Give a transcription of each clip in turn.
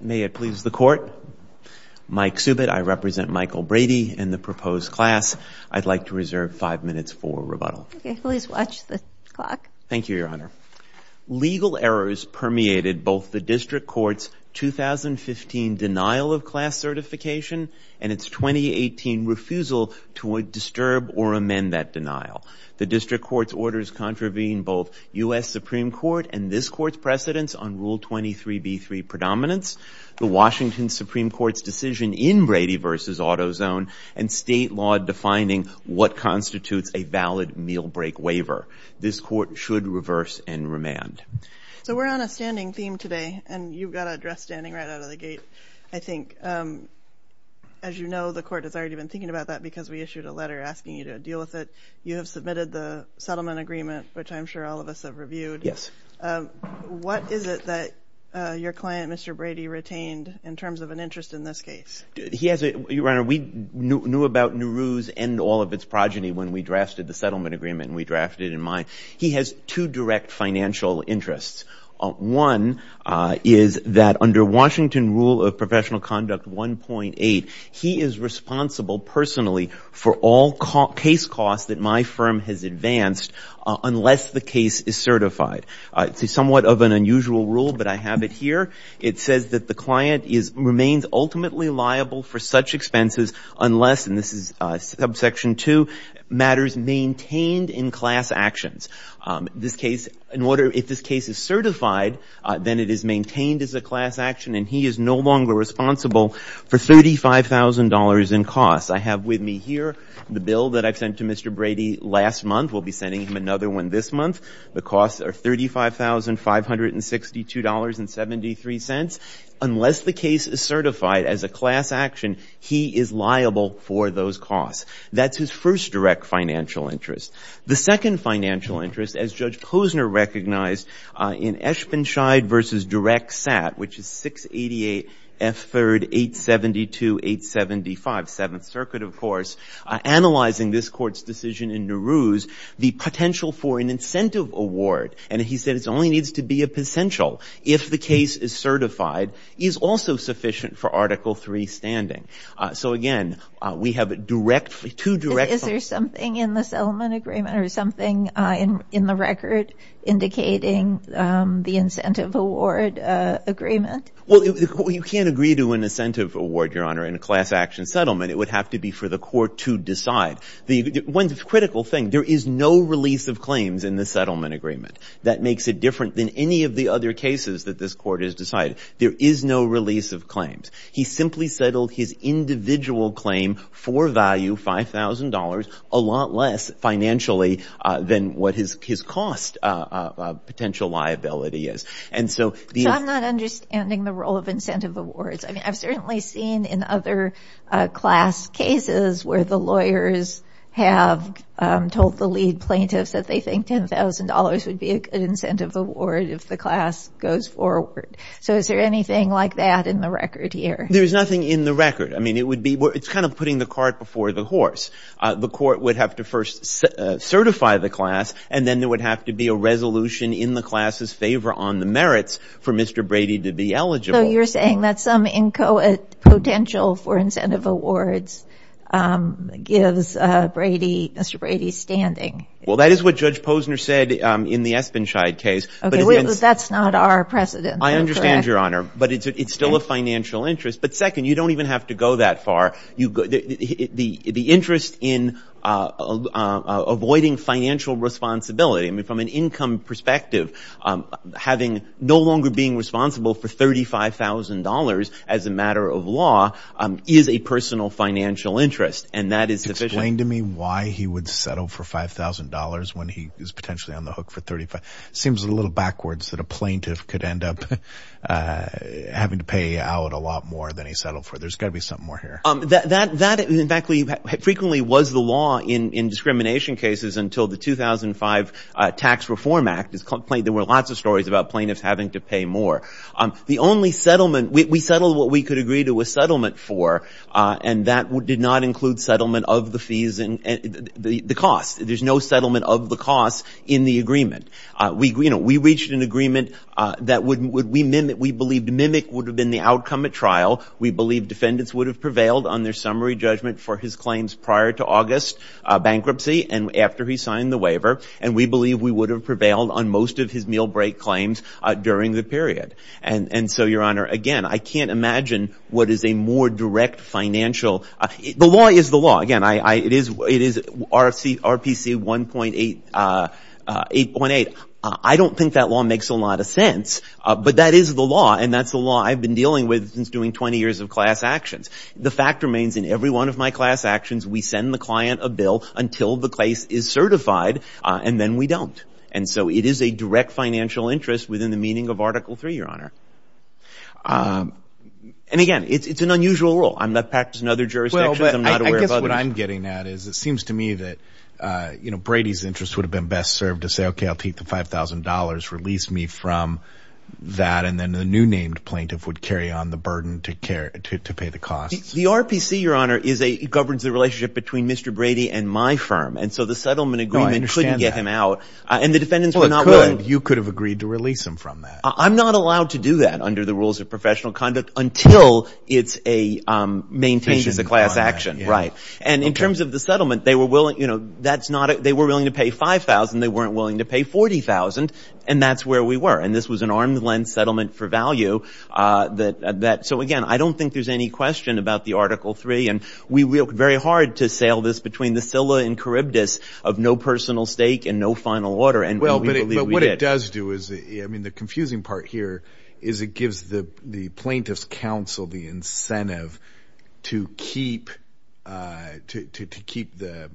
May it please the court. Mike Subit, I represent Michael Brady in the proposed class. I'd like to reserve five minutes for rebuttal. Please watch the clock. Thank you, Your Honor. Legal errors permeated both the district court's 2015 denial of class certification and its 2018 refusal to disturb or amend that denial. Court and this court's precedents on Rule 23b3 predominance, the Washington Supreme Court's decision in Brady v. AutoZone, and state law defining what constitutes a valid meal break waiver. This court should reverse and remand. So we're on a standing theme today. And you've got a dress standing right out of the gate, I think. As you know, the court has already been thinking about that because we issued a letter asking you to deal with it. You have submitted the settlement agreement, which I'm sure all of us have reviewed. Yes. What is it that your client, Mr. Brady, retained in terms of an interest in this case? He has a, Your Honor, we knew about Nehru's and all of its progeny when we drafted the settlement agreement and we drafted it in mind. He has two direct financial interests. One is that under Washington rule of professional conduct 1.8, he is responsible personally for all case costs that my firm has advanced unless the case is certified. It's somewhat of an unusual rule, but I have it here. It says that the client remains ultimately liable for such expenses unless, and this is subsection 2, matters maintained in class actions. This case, if this case is certified, then it is maintained as a class action and he is no longer responsible for $35,000 in costs. I have with me here the bill that I've sent to Mr. Brady last month. We'll be sending him another one this month. The costs are $35,562.73. Unless the case is certified as a class action, he is liable for those costs. That's his first direct financial interest. The second financial interest, as Judge Posner recognized in Eschpenscheid versus direct SAT, which is 688 F3rd 872 875, Seventh Circuit, of course, analyzing this court's decision in Nehru's, the potential for an incentive award, and he said it only needs to be a potential if the case is certified, is also sufficient for Article 3 standing. So again, we have two directs. Is there something in the settlement agreement or something in the record indicating the incentive award agreement? Well, you can't agree to an incentive award, Your Honor, in a class action settlement. It would have to be for the court to decide. One critical thing, there is no release of claims in the settlement agreement. That makes it different than any of the other cases that this court has decided. There is no release of claims. He simply settled his individual claim for value $5,000, a lot less financially than what his cost potential liability is. So I'm not understanding the role of incentive awards. I mean, I've certainly seen in other class cases where the lawyers have told the lead plaintiffs that they think $10,000 would be a good incentive award if the class goes forward. So is there anything like that in the record here? There's nothing in the record. I mean, it's kind of putting the cart before the horse. The court would have to first certify the class, and then there would have to be a resolution in the class's merits for Mr. Brady to be eligible. So you're saying that some inchoate potential for incentive awards gives Mr. Brady standing. Well, that is what Judge Posner said in the Espenshide case. That's not our precedent. I understand, Your Honor. But it's still a financial interest. But second, you don't even have to go that far. The interest in avoiding financial responsibility, I mean, from an income perspective, having no longer being responsible for $35,000 as a matter of law is a personal financial interest. And that is sufficient. Explain to me why he would settle for $5,000 when he is potentially on the hook for $35,000. Seems a little backwards that a plaintiff could end up having to pay out a lot more than he settled for. There's got to be something more here. That, in fact, frequently was the law in discrimination cases until the 2005 Tax Reform Act. There were lots of stories about plaintiffs having to pay more. The only settlement, we settled what we could agree to a settlement for. And that did not include settlement of the fees and the cost. There's no settlement of the cost in the agreement. We reached an agreement that we believed MIMIC would have been the outcome at trial. We believe defendants would have prevailed on their summary judgment for his claims prior to August bankruptcy and after he signed the waiver. And we believe we would have prevailed on most of his meal break claims during the period. And so, Your Honor, again, I can't imagine what is a more direct financial. The law is the law. Again, it is RPC 1.8. I don't think that law makes a lot of sense. But that is the law. And that's the law I've been dealing with since doing 20 years of class actions. The fact remains, in every one of my class actions, we send the client a bill until the case is certified. And then we don't. And so it is a direct financial interest within the meaning of Article 3, Your Honor. And again, it's an unusual rule. I'm not practicing other jurisdictions. I'm not aware of others. I guess what I'm getting at is it seems to me that Brady's interest would have been best served to say, OK, I'll take the $5,000. Release me from that. And then the new named plaintiff would carry on the burden to pay the costs. The RPC, Your Honor, governs the relationship between Mr. Brady and my firm. And so the settlement agreement couldn't get him out. And the defendants were not willing. You could have agreed to release him from that. I'm not allowed to do that under the rules of professional conduct until it's maintained as a class action. Right. And in terms of the settlement, they were willing to pay $5,000. They weren't willing to pay $40,000. And that's where we were. And this was an arm's length settlement for value. So again, I don't think there's any question about the Article III. And we worked very hard to sail this between the Scylla and Charybdis of no personal stake and no final order. And we believe we did. But what it does do is, I mean, the confusing part here is it gives the plaintiff's counsel the incentive to keep the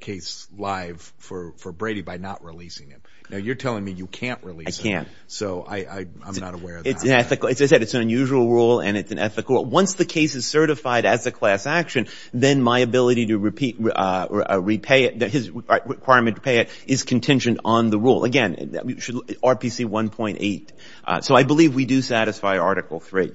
case live for Brady by not releasing him. Now, you're telling me you can't release him. I can't. So I'm not aware of that. It's unethical. As I said, it's an unusual rule. And it's unethical. Once the case is certified as a class action, then my ability to repay it, his requirement to pay it, is contingent on the rule. Again, RPC 1.8. So I believe we do satisfy Article III.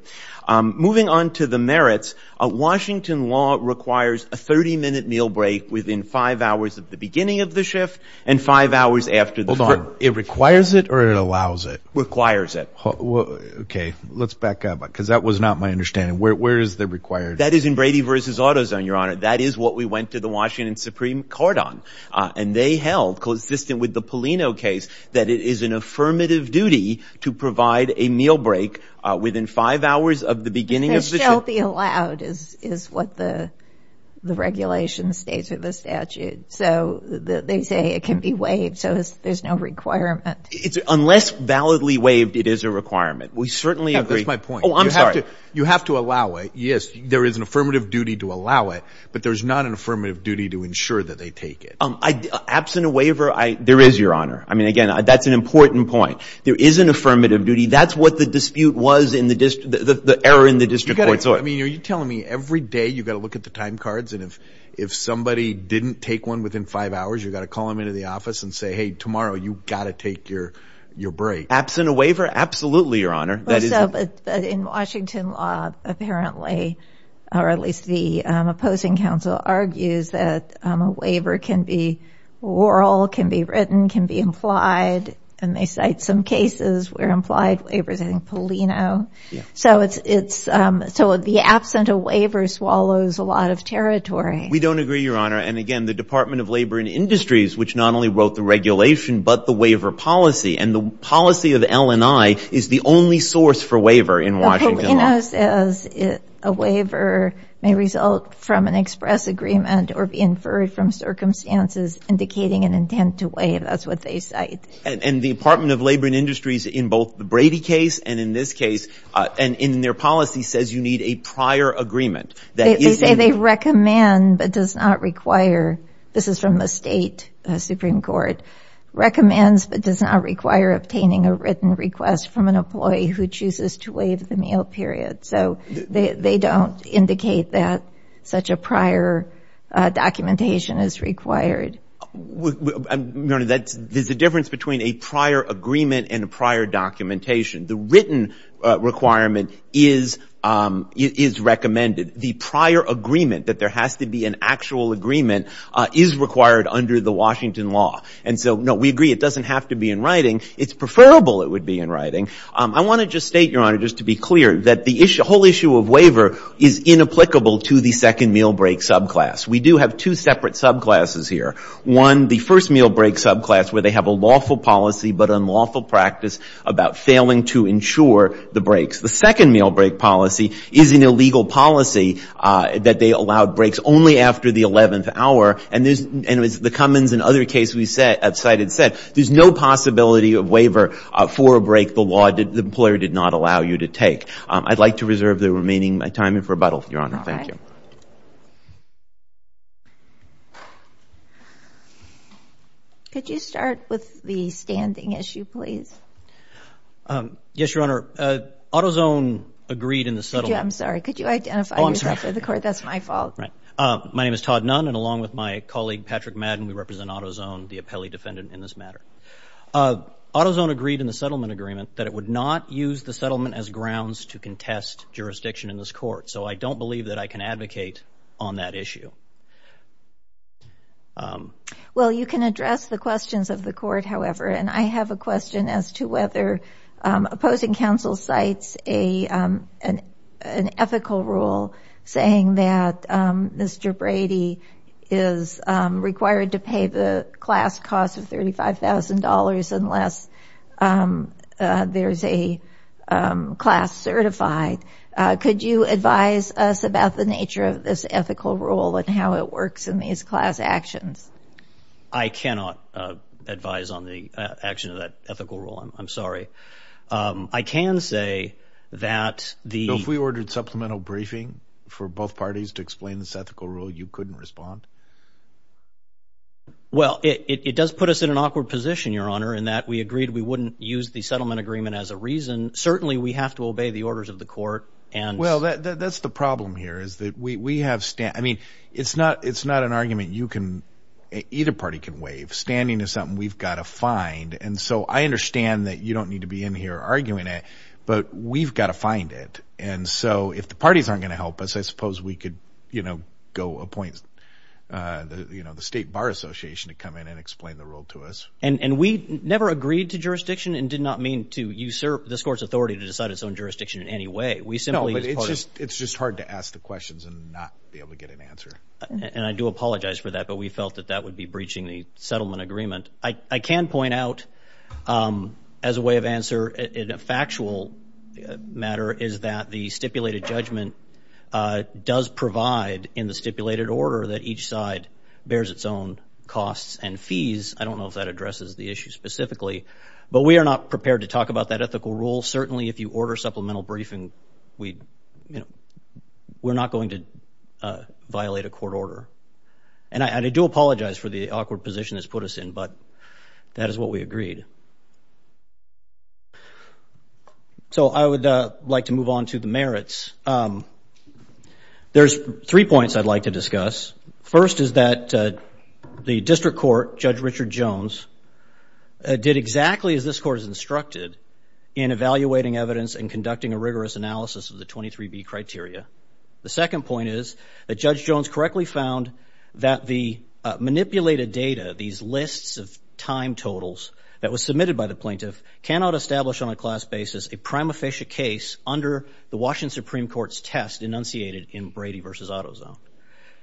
Moving on to the merits, Washington law requires a 30-minute meal break within five hours of the beginning of the shift and five hours after the first. Hold on. It requires it or it allows it? Requires it. OK. Let's back up, because that was not my understanding. Where is the required? That is in Brady v. AutoZone, Your Honor. That is what we went to the Washington Supreme Court on. And they held, consistent with the Paulino case, that it is an affirmative duty to provide a meal break within five hours of the beginning of the shift. It shall be allowed, is what the regulation states or the statute. So they say it can be waived, so there's no requirement. Unless validly waived, it is a requirement. We certainly agree. That's my point. Oh, I'm sorry. You have to allow it. Yes, there is an affirmative duty to allow it, but there's not an affirmative duty to ensure that they take it. Absent a waiver, there is, Your Honor. I mean, again, that's an important point. There is an affirmative duty. That's what the dispute was in the district, the error in the district court's order. I mean, are you telling me every day you've got to look at the time cards and if somebody didn't take one within five hours, you've got to call them into the office and say, hey, tomorrow you've got to take your break? Absent a waiver? Absolutely, Your Honor. But in Washington law, apparently, or at least the opposing counsel argues that a waiver can be oral, can be written, can be implied. And they cite some cases where implied waiver is in Polino. So the absent a waiver swallows a lot of territory. We don't agree, Your Honor. And again, the Department of Labor and Industries, which not only wrote the regulation but the waiver policy, and the policy of the LNI is the only source for waiver in Washington law. But Polino says a waiver may result from an express agreement or be inferred from circumstances indicating an intent to waive. That's what they cite. And the Department of Labor and Industries, in both the Brady case and in this case, and in their policy, says you need a prior agreement. They say they recommend but does not require. This is from the state Supreme Court. Recommends but does not require obtaining a written request from an employee who chooses to waive the meal period. So they don't indicate that such a prior documentation is required. Your Honor, there's a difference between a prior agreement and a prior documentation. The written requirement is recommended. The prior agreement, that there has to be an actual agreement, is required under the Washington law. And so, no, we agree it doesn't have to be in writing. It's preferable it would be in writing. I want to just state, Your Honor, just to be clear, that the whole issue of waiver is inapplicable to the second meal break subclass. We do have two separate subclasses here. One, the first meal break subclass, where they have a lawful policy but unlawful practice about failing to ensure the breaks. The second meal break policy is an illegal policy that they allowed breaks only after the 11th hour. And as the Cummins and other cases we've cited said, there's no possibility of waiver for a break the law the employer did not allow you to take. I'd like to reserve the remaining time for rebuttal, Your Honor. Thank you. Could you start with the standing issue, please? Yes, Your Honor. AutoZone agreed in the settlement. I'm sorry. Could you identify yourself for the court? That's my fault. My name is Todd Nunn. And along with my colleague, Patrick Madden, we represent AutoZone, the appellee defendant in this matter. AutoZone agreed in the settlement agreement that it would not use the settlement as grounds to contest jurisdiction in this court. So I don't believe that I can advocate on that issue. Well, you can address the questions of the court, however. And I have a question as to whether opposing counsel cites an ethical rule saying that Mr. Brady is required to pay the class cost of $35,000 unless there's a class certified. Could you advise us about the nature of this ethical rule and how it works in these class actions? I cannot advise on the action of that ethical rule. I'm sorry. I can say that the- So if we ordered supplemental briefing for both parties to explain this ethical rule, you couldn't respond? Well, it does put us in an awkward position, Your Honor, in that we agreed we wouldn't use the settlement agreement as a reason. Certainly, we have to obey the orders of the court and- Well, that's the problem here is that we have stand- I mean, it's not an argument you can- either party can waive. Standing is something we've got to find. And so I understand that you don't need to be in here arguing it, but we've got to find it. And so if the parties aren't going to help us, I suppose we could go appoint the State Bar Association to come in and explain the rule to us. And we never agreed to jurisdiction and did not mean to usurp this court's authority to decide its own jurisdiction in any way. We simply- No, but it's just hard to ask the questions and not be able to get an answer. And I do apologize for that, but we felt that that would be breaching the settlement agreement. I can point out, as a way of answer in a factual matter, is that the stipulated judgment does provide in the stipulated order that each side bears its own costs and fees. I don't know if that addresses the issue specifically, but we are not prepared to talk about that ethical rule. Certainly, if you order supplemental briefing, we're not going to violate a court order. And I do apologize for the awkward position it's put us in, but that is what we agreed. So I would like to move on to the merits. There's three points I'd like to discuss. First is that the district court, Judge Richard Jones, did exactly as this court is instructed in evaluating evidence and conducting a rigorous analysis of the 23B criteria. The second point is that Judge Jones correctly found that the manipulated data, these lists of time totals that was submitted by the plaintiff, cannot establish on a class basis a prima facie case under the Washington Supreme Court's test enunciated in Brady v. Autozone.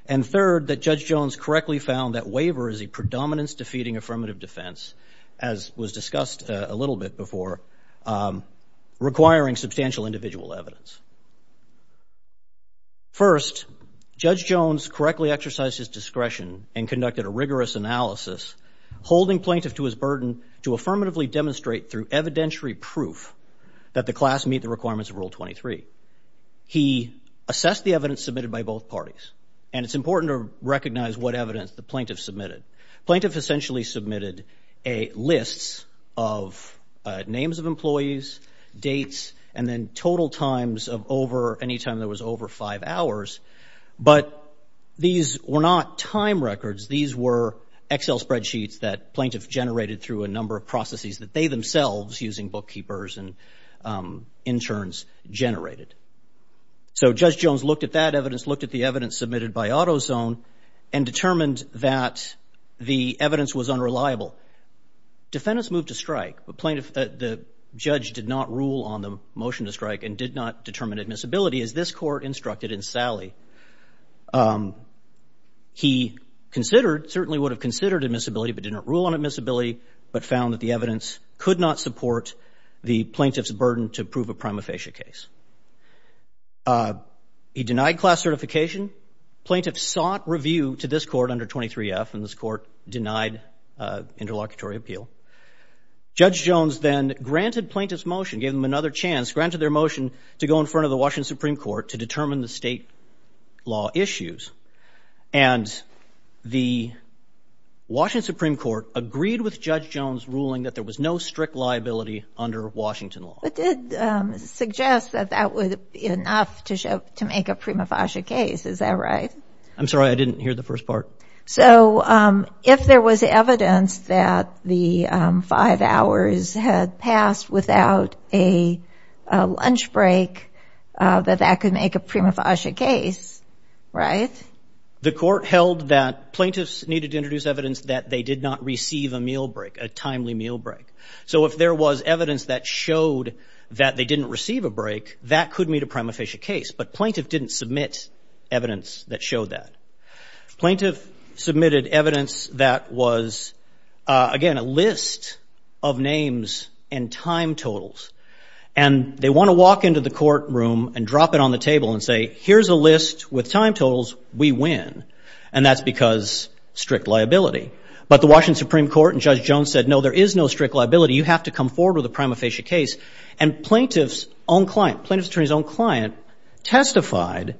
And third, that Judge Jones correctly found that waiver is a predominance-defeating affirmative defense, as was discussed a little bit before, requiring substantial individual evidence. First, Judge Jones correctly exercised his discretion and conducted a rigorous analysis, holding plaintiff to his burden to affirmatively demonstrate through evidentiary proof that the class meet the requirements of Rule 23. He assessed the evidence submitted by both parties. And it's important to recognize what evidence the plaintiff submitted. Plaintiff essentially submitted lists of names of employees, dates, and then total times of over any time there was over five hours. But these were not time records. These were Excel spreadsheets that plaintiff generated through a number of processes that they themselves, using bookkeepers and interns, generated. So Judge Jones looked at that evidence, looked at the evidence submitted by Autozone, and determined that the evidence was unreliable. Defendants moved to strike, but the judge did not rule on the motion to strike and did not determine admissibility, as this court instructed in Sallie. He considered, certainly would have considered admissibility, but did not rule on admissibility, but found that the evidence could not support the plaintiff's burden to prove a prima facie case. He denied class certification. Plaintiff sought review to this court under 23-F, and this court denied interlocutory appeal. Judge Jones then granted plaintiff's motion, gave them another chance, granted their motion to go in front of the Washington Supreme Court to determine the state law issues. And the Washington Supreme Court agreed with Judge Jones' ruling that there was no strict liability under Washington law. But did suggest that that would be enough to make a prima facie case, is that right? I'm sorry, I didn't hear the first part. So if there was evidence that the five hours had passed without a lunch break, that that could make a prima facie case, right? The court held that plaintiffs needed to introduce evidence that they did not receive a meal break, a timely meal break. So if there was evidence that showed that they didn't receive a break, that could meet a prima facie case. But plaintiff didn't submit evidence that showed that. Plaintiff submitted evidence that was, again, a list of names and time totals. And they want to walk into the courtroom and drop it on the table and say, here's a list with time totals. We win. And that's because strict liability. But the Washington Supreme Court and Judge Jones said, no, there is no strict liability. You have to come forward with a prima facie case. And plaintiff's own client, plaintiff's attorney's own client testified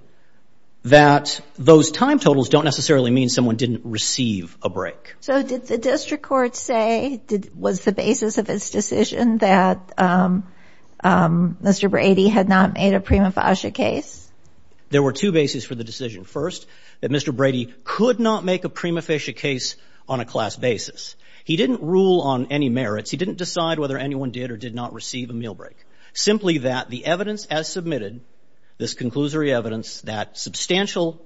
that those time totals don't necessarily mean someone didn't receive a break. So did the district court say, was the basis of its decision that Mr. Brady had not made a prima facie case? There were two bases for the decision. First, that Mr. Brady could not make a prima facie case on a class basis. He didn't rule on any merits. He didn't decide whether anyone did or did not receive a meal break. Simply that the evidence as submitted, this conclusory evidence that substantial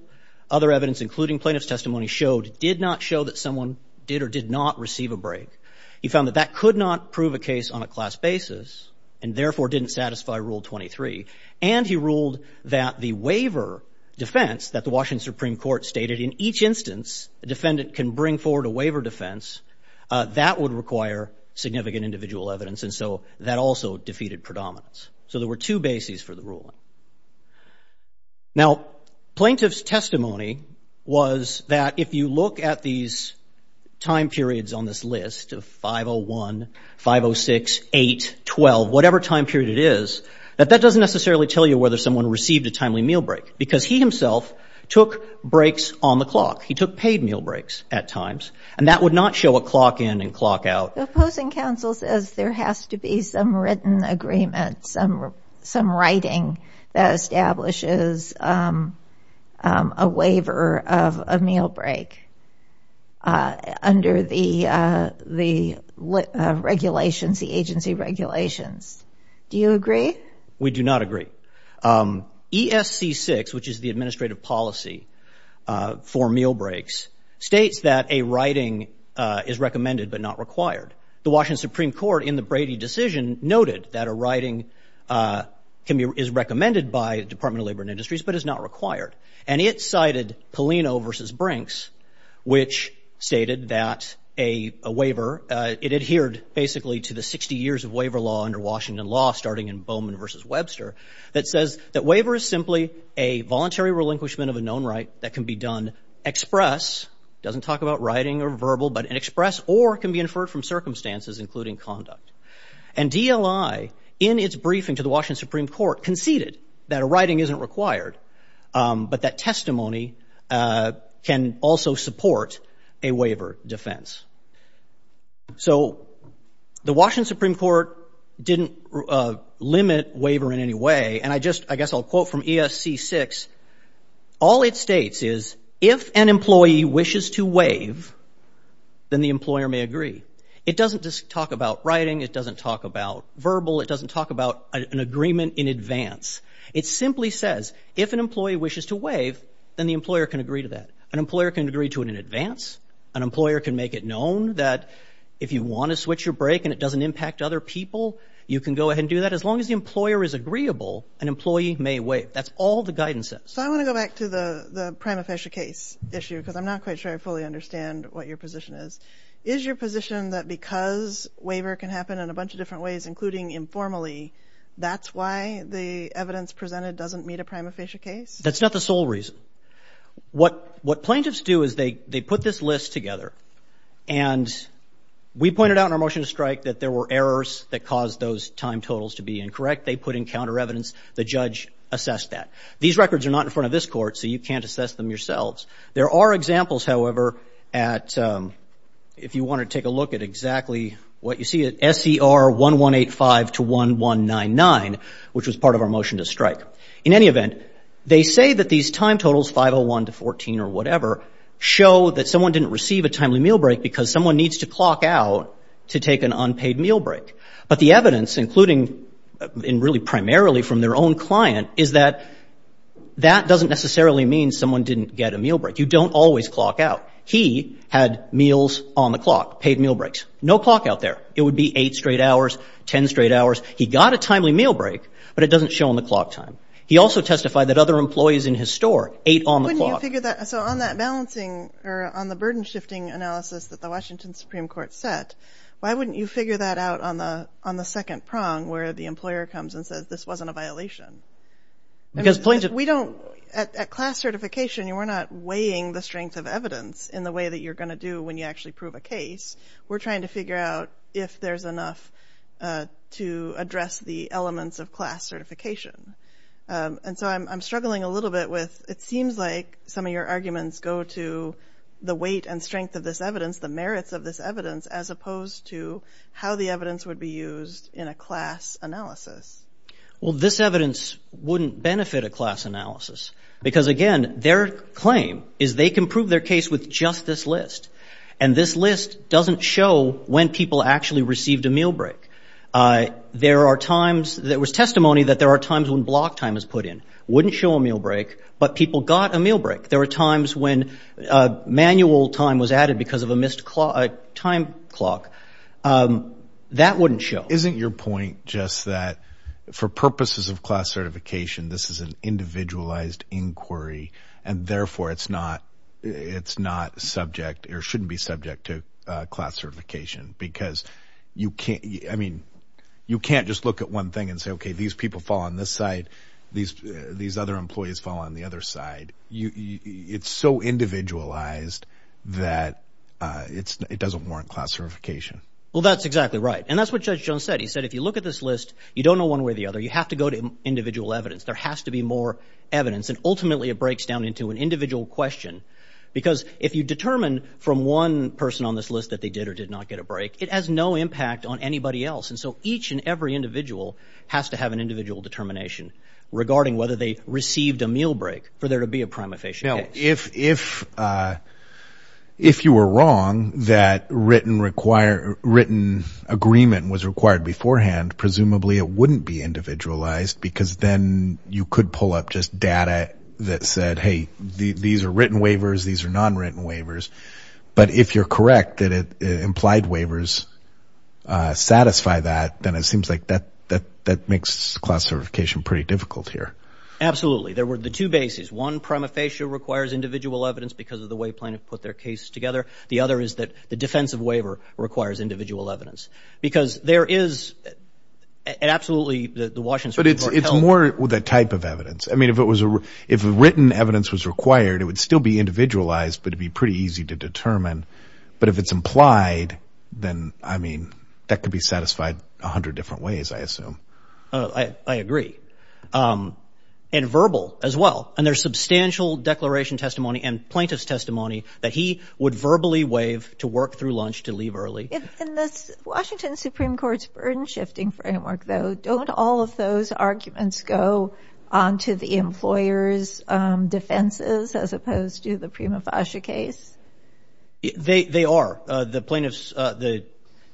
other evidence, including plaintiff's testimony, did not show that someone did or did not receive a break. He found that that could not prove a case on a class basis and therefore didn't satisfy Rule 23. And he ruled that the waiver defense that the Washington Supreme Court stated, in each instance, a defendant can bring forward a waiver defense, that would require significant individual evidence. And so that also defeated predominance. So there were two bases for the ruling. Now, plaintiff's testimony was that if you look at these time periods on this list of 501, 506, 8, 12, whatever time period it is, that that doesn't necessarily tell you whether someone received a timely meal break. Because he himself took breaks on the clock. He took paid meal breaks at times. And that would not show a clock in and clock out. The opposing counsel says there has to be some written agreement, some writing that establishes a waiver of a meal break under the agency regulations. Do you agree? We do not agree. ESC 6, which is the administrative policy for meal breaks, states that a writing is recommended but not required. The Washington Supreme Court, in the Brady decision, noted that a writing is recommended by the Department of Labor and Industries, but is not required. And it cited Paulino versus Brinks, which stated that a waiver, it adhered, basically, to the 60 years of waiver law under Washington law, starting in Bowman versus Webster, that says that waiver is simply a voluntary relinquishment of a known right that can be done express, doesn't talk about writing or verbal, but in express, or can be inferred from circumstances, including conduct. And DLI, in its briefing to the Washington Supreme Court, conceded that a writing isn't required, but that testimony can also support a waiver defense. So the Washington Supreme Court didn't limit waiver in any way. And I guess I'll quote from ESC 6. All it states is, if an employee wishes to waive, then the employer may agree. It doesn't just talk about writing. It doesn't talk about verbal. It doesn't talk about an agreement in advance. It simply says, if an employee wishes to waive, then the employer can agree to that. An employer can agree to it in advance. An employer can make it known that, if you want to switch your break and it doesn't impact other people, you can go ahead and do that. As long as the employer is agreeable, an employee may waive. That's all the guidance says. So I want to go back to the prima facie case issue, because I'm not quite sure I fully understand what your position is. Is your position that because waiver can happen in a bunch of different ways, including informally, that's why the evidence presented doesn't meet a prima facie case? That's not the sole reason. What plaintiffs do is they put this list together. And we pointed out in our motion to strike that there were errors that caused those time totals to be incorrect. They put in counter evidence. The judge assessed that. These records are not in front of this court, so you can't assess them yourselves. There are examples, however, at, if you want to take a look at exactly what you see, at SER 1185 to 1199, which was part of our motion to strike. In any event, they say that these time totals, 501 to 14 or whatever, show that someone didn't receive a timely meal break because someone needs to clock out to take an unpaid meal break. But the evidence, including in really primarily from their own client, is that that doesn't necessarily mean someone didn't get a meal break. You don't always clock out. He had meals on the clock, paid meal breaks. No clock out there. It would be eight straight hours, 10 straight hours. He got a timely meal break, but it doesn't show on the clock time. He also testified that other employees in his store ate on the clock. So on that balancing, or on the burden shifting analysis that the Washington Supreme Court set, why wouldn't you figure that out on the second prong where the employer comes and says this wasn't a violation? Because plaintiffs- At class certification, you are not weighing the strength of evidence in the way that you're gonna do when you actually prove a case. We're trying to figure out if there's enough to address the elements of class certification. And so I'm struggling a little bit with, it seems like some of your arguments go to the weight and strength of this evidence, the merits of this evidence, as opposed to how the evidence would be used in a class analysis. Well, this evidence wouldn't benefit a class analysis because again, their claim is they can prove their case with just this list. And this list doesn't show when people actually received a meal break. There are times, there was testimony that there are times when block time is put in. Wouldn't show a meal break, but people got a meal break. There were times when manual time was added because of a missed time clock. That wouldn't show. Isn't your point just that for purposes of class certification, this is an individualized inquiry and therefore it's not subject or shouldn't be subject to class certification because you can't, I mean, you can't just look at one thing and say, okay, these people fall on this side. These other employees fall on the other side. You, it's so individualized that it doesn't warrant class certification. Well, that's exactly right. And that's what Judge Jones said. He said, if you look at this list, you don't know one way or the other. You have to go to individual evidence. There has to be more evidence. And ultimately it breaks down into an individual question because if you determine from one person on this list that they did or did not get a break, it has no impact on anybody else. And so each and every individual has to have an individual determination regarding whether they received a meal break for there to be a prima facie case. If you were wrong that written agreement was required beforehand, presumably it wouldn't be individualized because then you could pull up just data that said, hey, these are written waivers. These are non-written waivers. But if you're correct that implied waivers satisfy that, then it seems like that makes class certification pretty difficult here. Absolutely. There were the two bases. One, prima facie requires individual evidence because of the way plaintiff put their cases together. The other is that the defensive waiver requires individual evidence because there is absolutely, the Washington Supreme Court held- But it's more the type of evidence. I mean, if written evidence was required, it would still be individualized, but it'd be pretty easy to determine. But if it's implied, then I mean, that could be satisfied a hundred different ways, I assume. Oh, I agree. And verbal as well. And there's substantial declaration testimony and plaintiff's testimony that he would verbally waive to work through lunch to leave early. In the Washington Supreme Court's burden shifting framework though, don't all of those arguments go onto the employer's defenses as opposed to the prima facie case? They are. The plaintiff's, the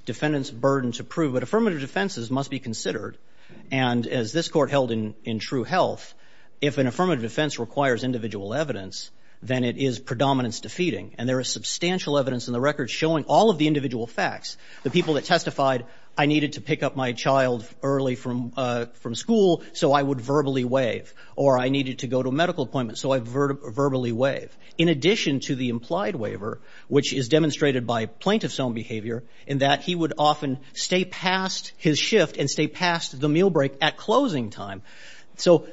defendant's burden to prove, but affirmative defenses must be considered. And as this court held in true health, if an affirmative defense requires individual evidence, then it is predominance defeating. And there is substantial evidence in the record showing all of the individual facts. The people that testified, I needed to pick up my child early from school so I would verbally waive. Or I needed to go to a medical appointment so I verbally waive. In addition to the implied waiver, which is demonstrated by plaintiff's own behavior in that he would often stay past his shift and stay past the meal break at closing time. So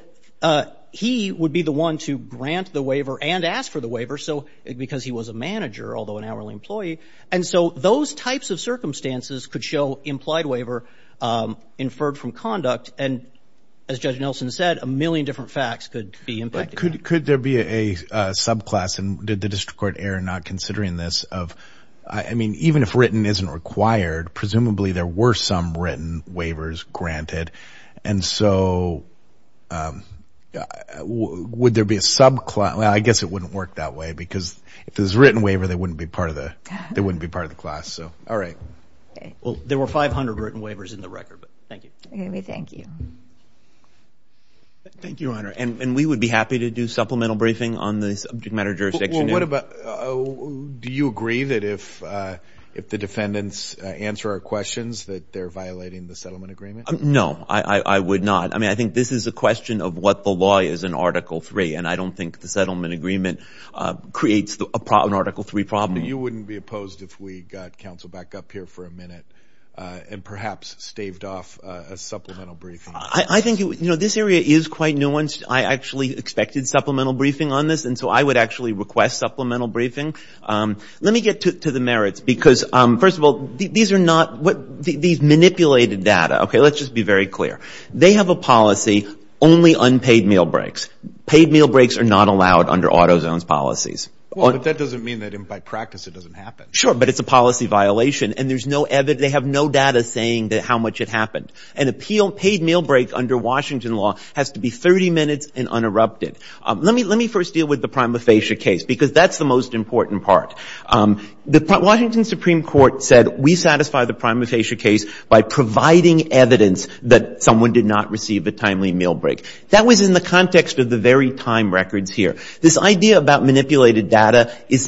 he would be the one to grant the waiver and ask for the waiver. So because he was a manager, although an hourly employee. And so those types of circumstances could show implied waiver inferred from conduct. And as Judge Nelson said, a million different facts could be impacted. Could there be a subclass and did the district court error not considering this of, I mean, even if written isn't required, presumably there were some written waivers granted. And so would there be a subclass? Well, I guess it wouldn't work that way because if there's a written waiver, they wouldn't be part of the class. So, all right. Well, there were 500 written waivers in the record, but thank you. Okay, we thank you. Thank you, Your Honor. And we would be happy to do supplemental briefing on the subject matter jurisdiction. Well, what about, do you agree that if the defendants answer our questions that they're violating the settlement agreement? No, I would not. I mean, I think this is a question of what the law is in Article III. And I don't think the settlement agreement creates an Article III problem. You wouldn't be opposed if we got counsel back up here for a minute and perhaps staved off a supplemental briefing. I think, you know, this area is quite nuanced. I actually expected supplemental briefing on this. And so I would actually request supplemental briefing. Let me get to the merits because first of all, these are not, these manipulated data. Okay, let's just be very clear. They have a policy, only unpaid meal breaks. Paid meal breaks are not allowed under AutoZone's policies. Well, but that doesn't mean that in by practice it doesn't happen. Sure, but it's a policy violation. And there's no evidence, they have no data saying that how much it happened. An appeal paid meal break under Washington law has to be 30 minutes and unerupted. Let me first deal with the prima facie case because that's the most important part. The Washington Supreme Court said, we satisfy the prima facie case by providing evidence that someone did not receive a timely meal break. That was in the context of the very time records here. This idea about manipulated data is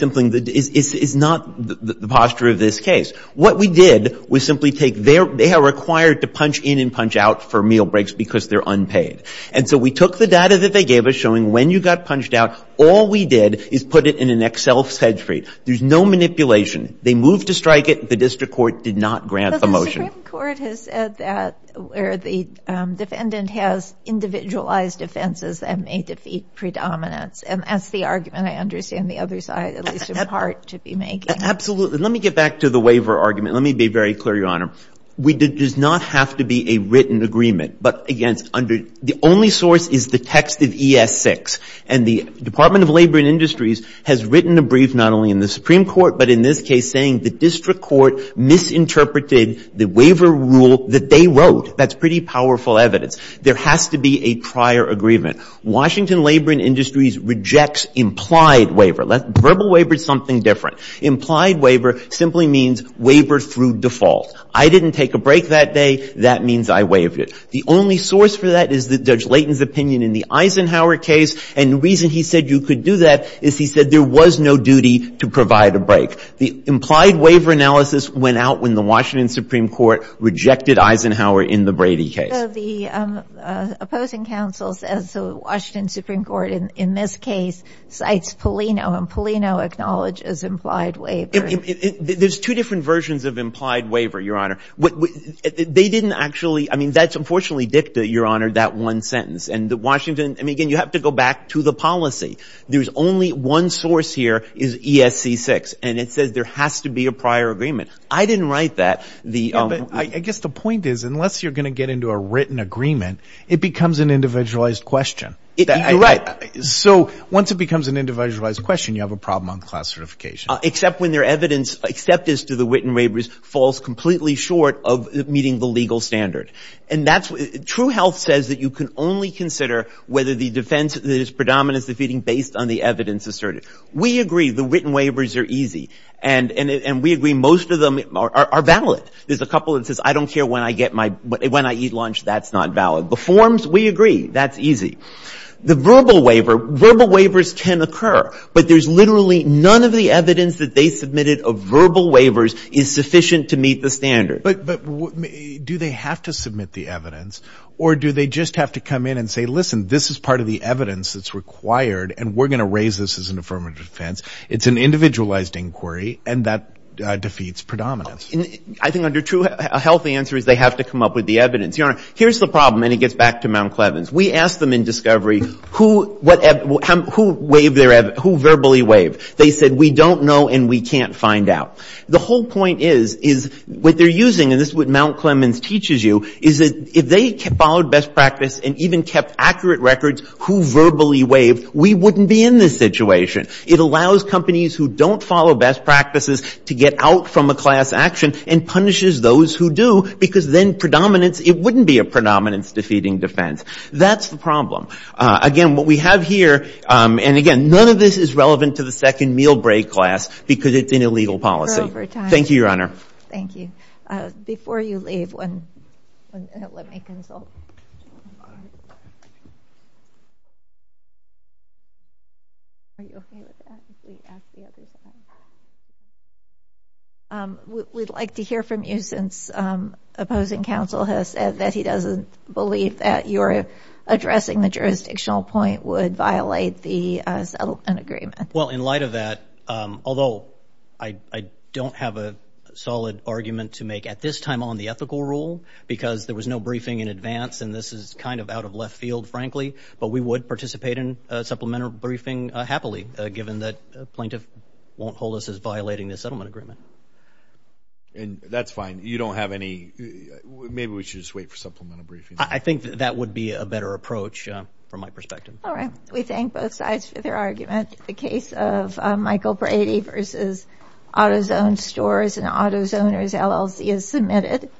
not the posture of this case. What we did was simply take, they are required to punch in and punch out for meal breaks because they're unpaid. And so we took the data that they gave us showing when you got punched out, all we did is put it in an Excel spreadsheet. There's no manipulation. They moved to strike it, the district court did not grant the motion. The Supreme Court has said that where the defendant has individualized offenses that may defeat predominance. And that's the argument I understand the other side, at least in part, to be making. Absolutely. Let me get back to the waiver argument. Let me be very clear, Your Honor. We did not have to be a written agreement, but against under, the only source is the text of ES6. And the Department of Labor and Industries has written a brief, not only in the Supreme Court, but in this case saying the district court misinterpreted the waiver rule that they wrote. That's pretty powerful evidence. There has to be a prior agreement. Washington Labor and Industries rejects implied waiver. Verbal waiver is something different. Implied waiver simply means waiver through default. I didn't take a break that day, that means I waived it. The only source for that is Judge Layton's opinion in the Eisenhower case, and the reason he said you could do that is he said there was no duty to provide a break. The implied waiver analysis went out when the Washington Supreme Court rejected Eisenhower in the Brady case. The opposing counsel says the Washington Supreme Court in this case cites Paulino, and Paulino acknowledges implied waiver. There's two different versions of implied waiver, Your Honor. They didn't actually, I mean, that's unfortunately dicta, Your Honor, that one sentence. And Washington, I mean, again, you have to go back to the policy. There's only one source here is ESC6, and it says there has to be a prior agreement. I didn't write that. Yeah, but I guess the point is, unless you're gonna get into a written agreement, it becomes an individualized question. You're right. So once it becomes an individualized question, you have a problem on class certification. Except when their evidence, except as to the written waivers, falls completely short of meeting the legal standard. And that's, True Health says that you can only consider whether the defense that is predominant is defeating based on the evidence asserted. We agree the written waivers are easy. And we agree most of them are valid. There's a couple that says, I don't care when I eat lunch, that's not valid. The forms, we agree, that's easy. The verbal waiver, verbal waivers can occur, but there's literally none of the evidence that they submitted of verbal waivers is sufficient to meet the standard. But do they have to submit the evidence, or do they just have to come in and say, listen, this is part of the evidence that's required, and we're going to raise this as an affirmative defense. It's an individualized inquiry, and that defeats predominance. I think under True Health, the answer is they have to come up with the evidence. Your Honor, here's the problem, and it gets back to Mount Clemens. We asked them in discovery who verbally waived. They said, we don't know, and we can't find out. The whole point is, is what they're using, and this is what Mount Clemens teaches you, is that if they followed best practice and even kept accurate records who verbally waived, we wouldn't be in this situation. It allows companies who don't follow best practices to get out from a class action, and punishes those who do, because then predominance, it wouldn't be a predominance-defeating defense. That's the problem. Again, what we have here, and again, none of this is relevant to the second meal break class, because it's an illegal policy. Thank you, Your Honor. Thank you. Before you leave, let me consult. Are you okay with that? Let me see, ask the other side. We'd like to hear from you, since opposing counsel has said that he doesn't believe that your addressing the jurisdictional point would violate the settlement agreement. Well, in light of that, although I don't have a solid argument to make, at this time, on the ethical rule, because there was no briefing in advance, and this is kind of out of left field, frankly, but we would participate in a supplemental briefing happily, given that a plaintiff won't hold us as violating the settlement agreement. And that's fine, you don't have any, maybe we should just wait for supplemental briefing. I think that would be a better approach, from my perspective. All right, we thank both sides for their argument. The case of Michael Brady versus AutoZone Stores and AutoZoners LLC is submitted.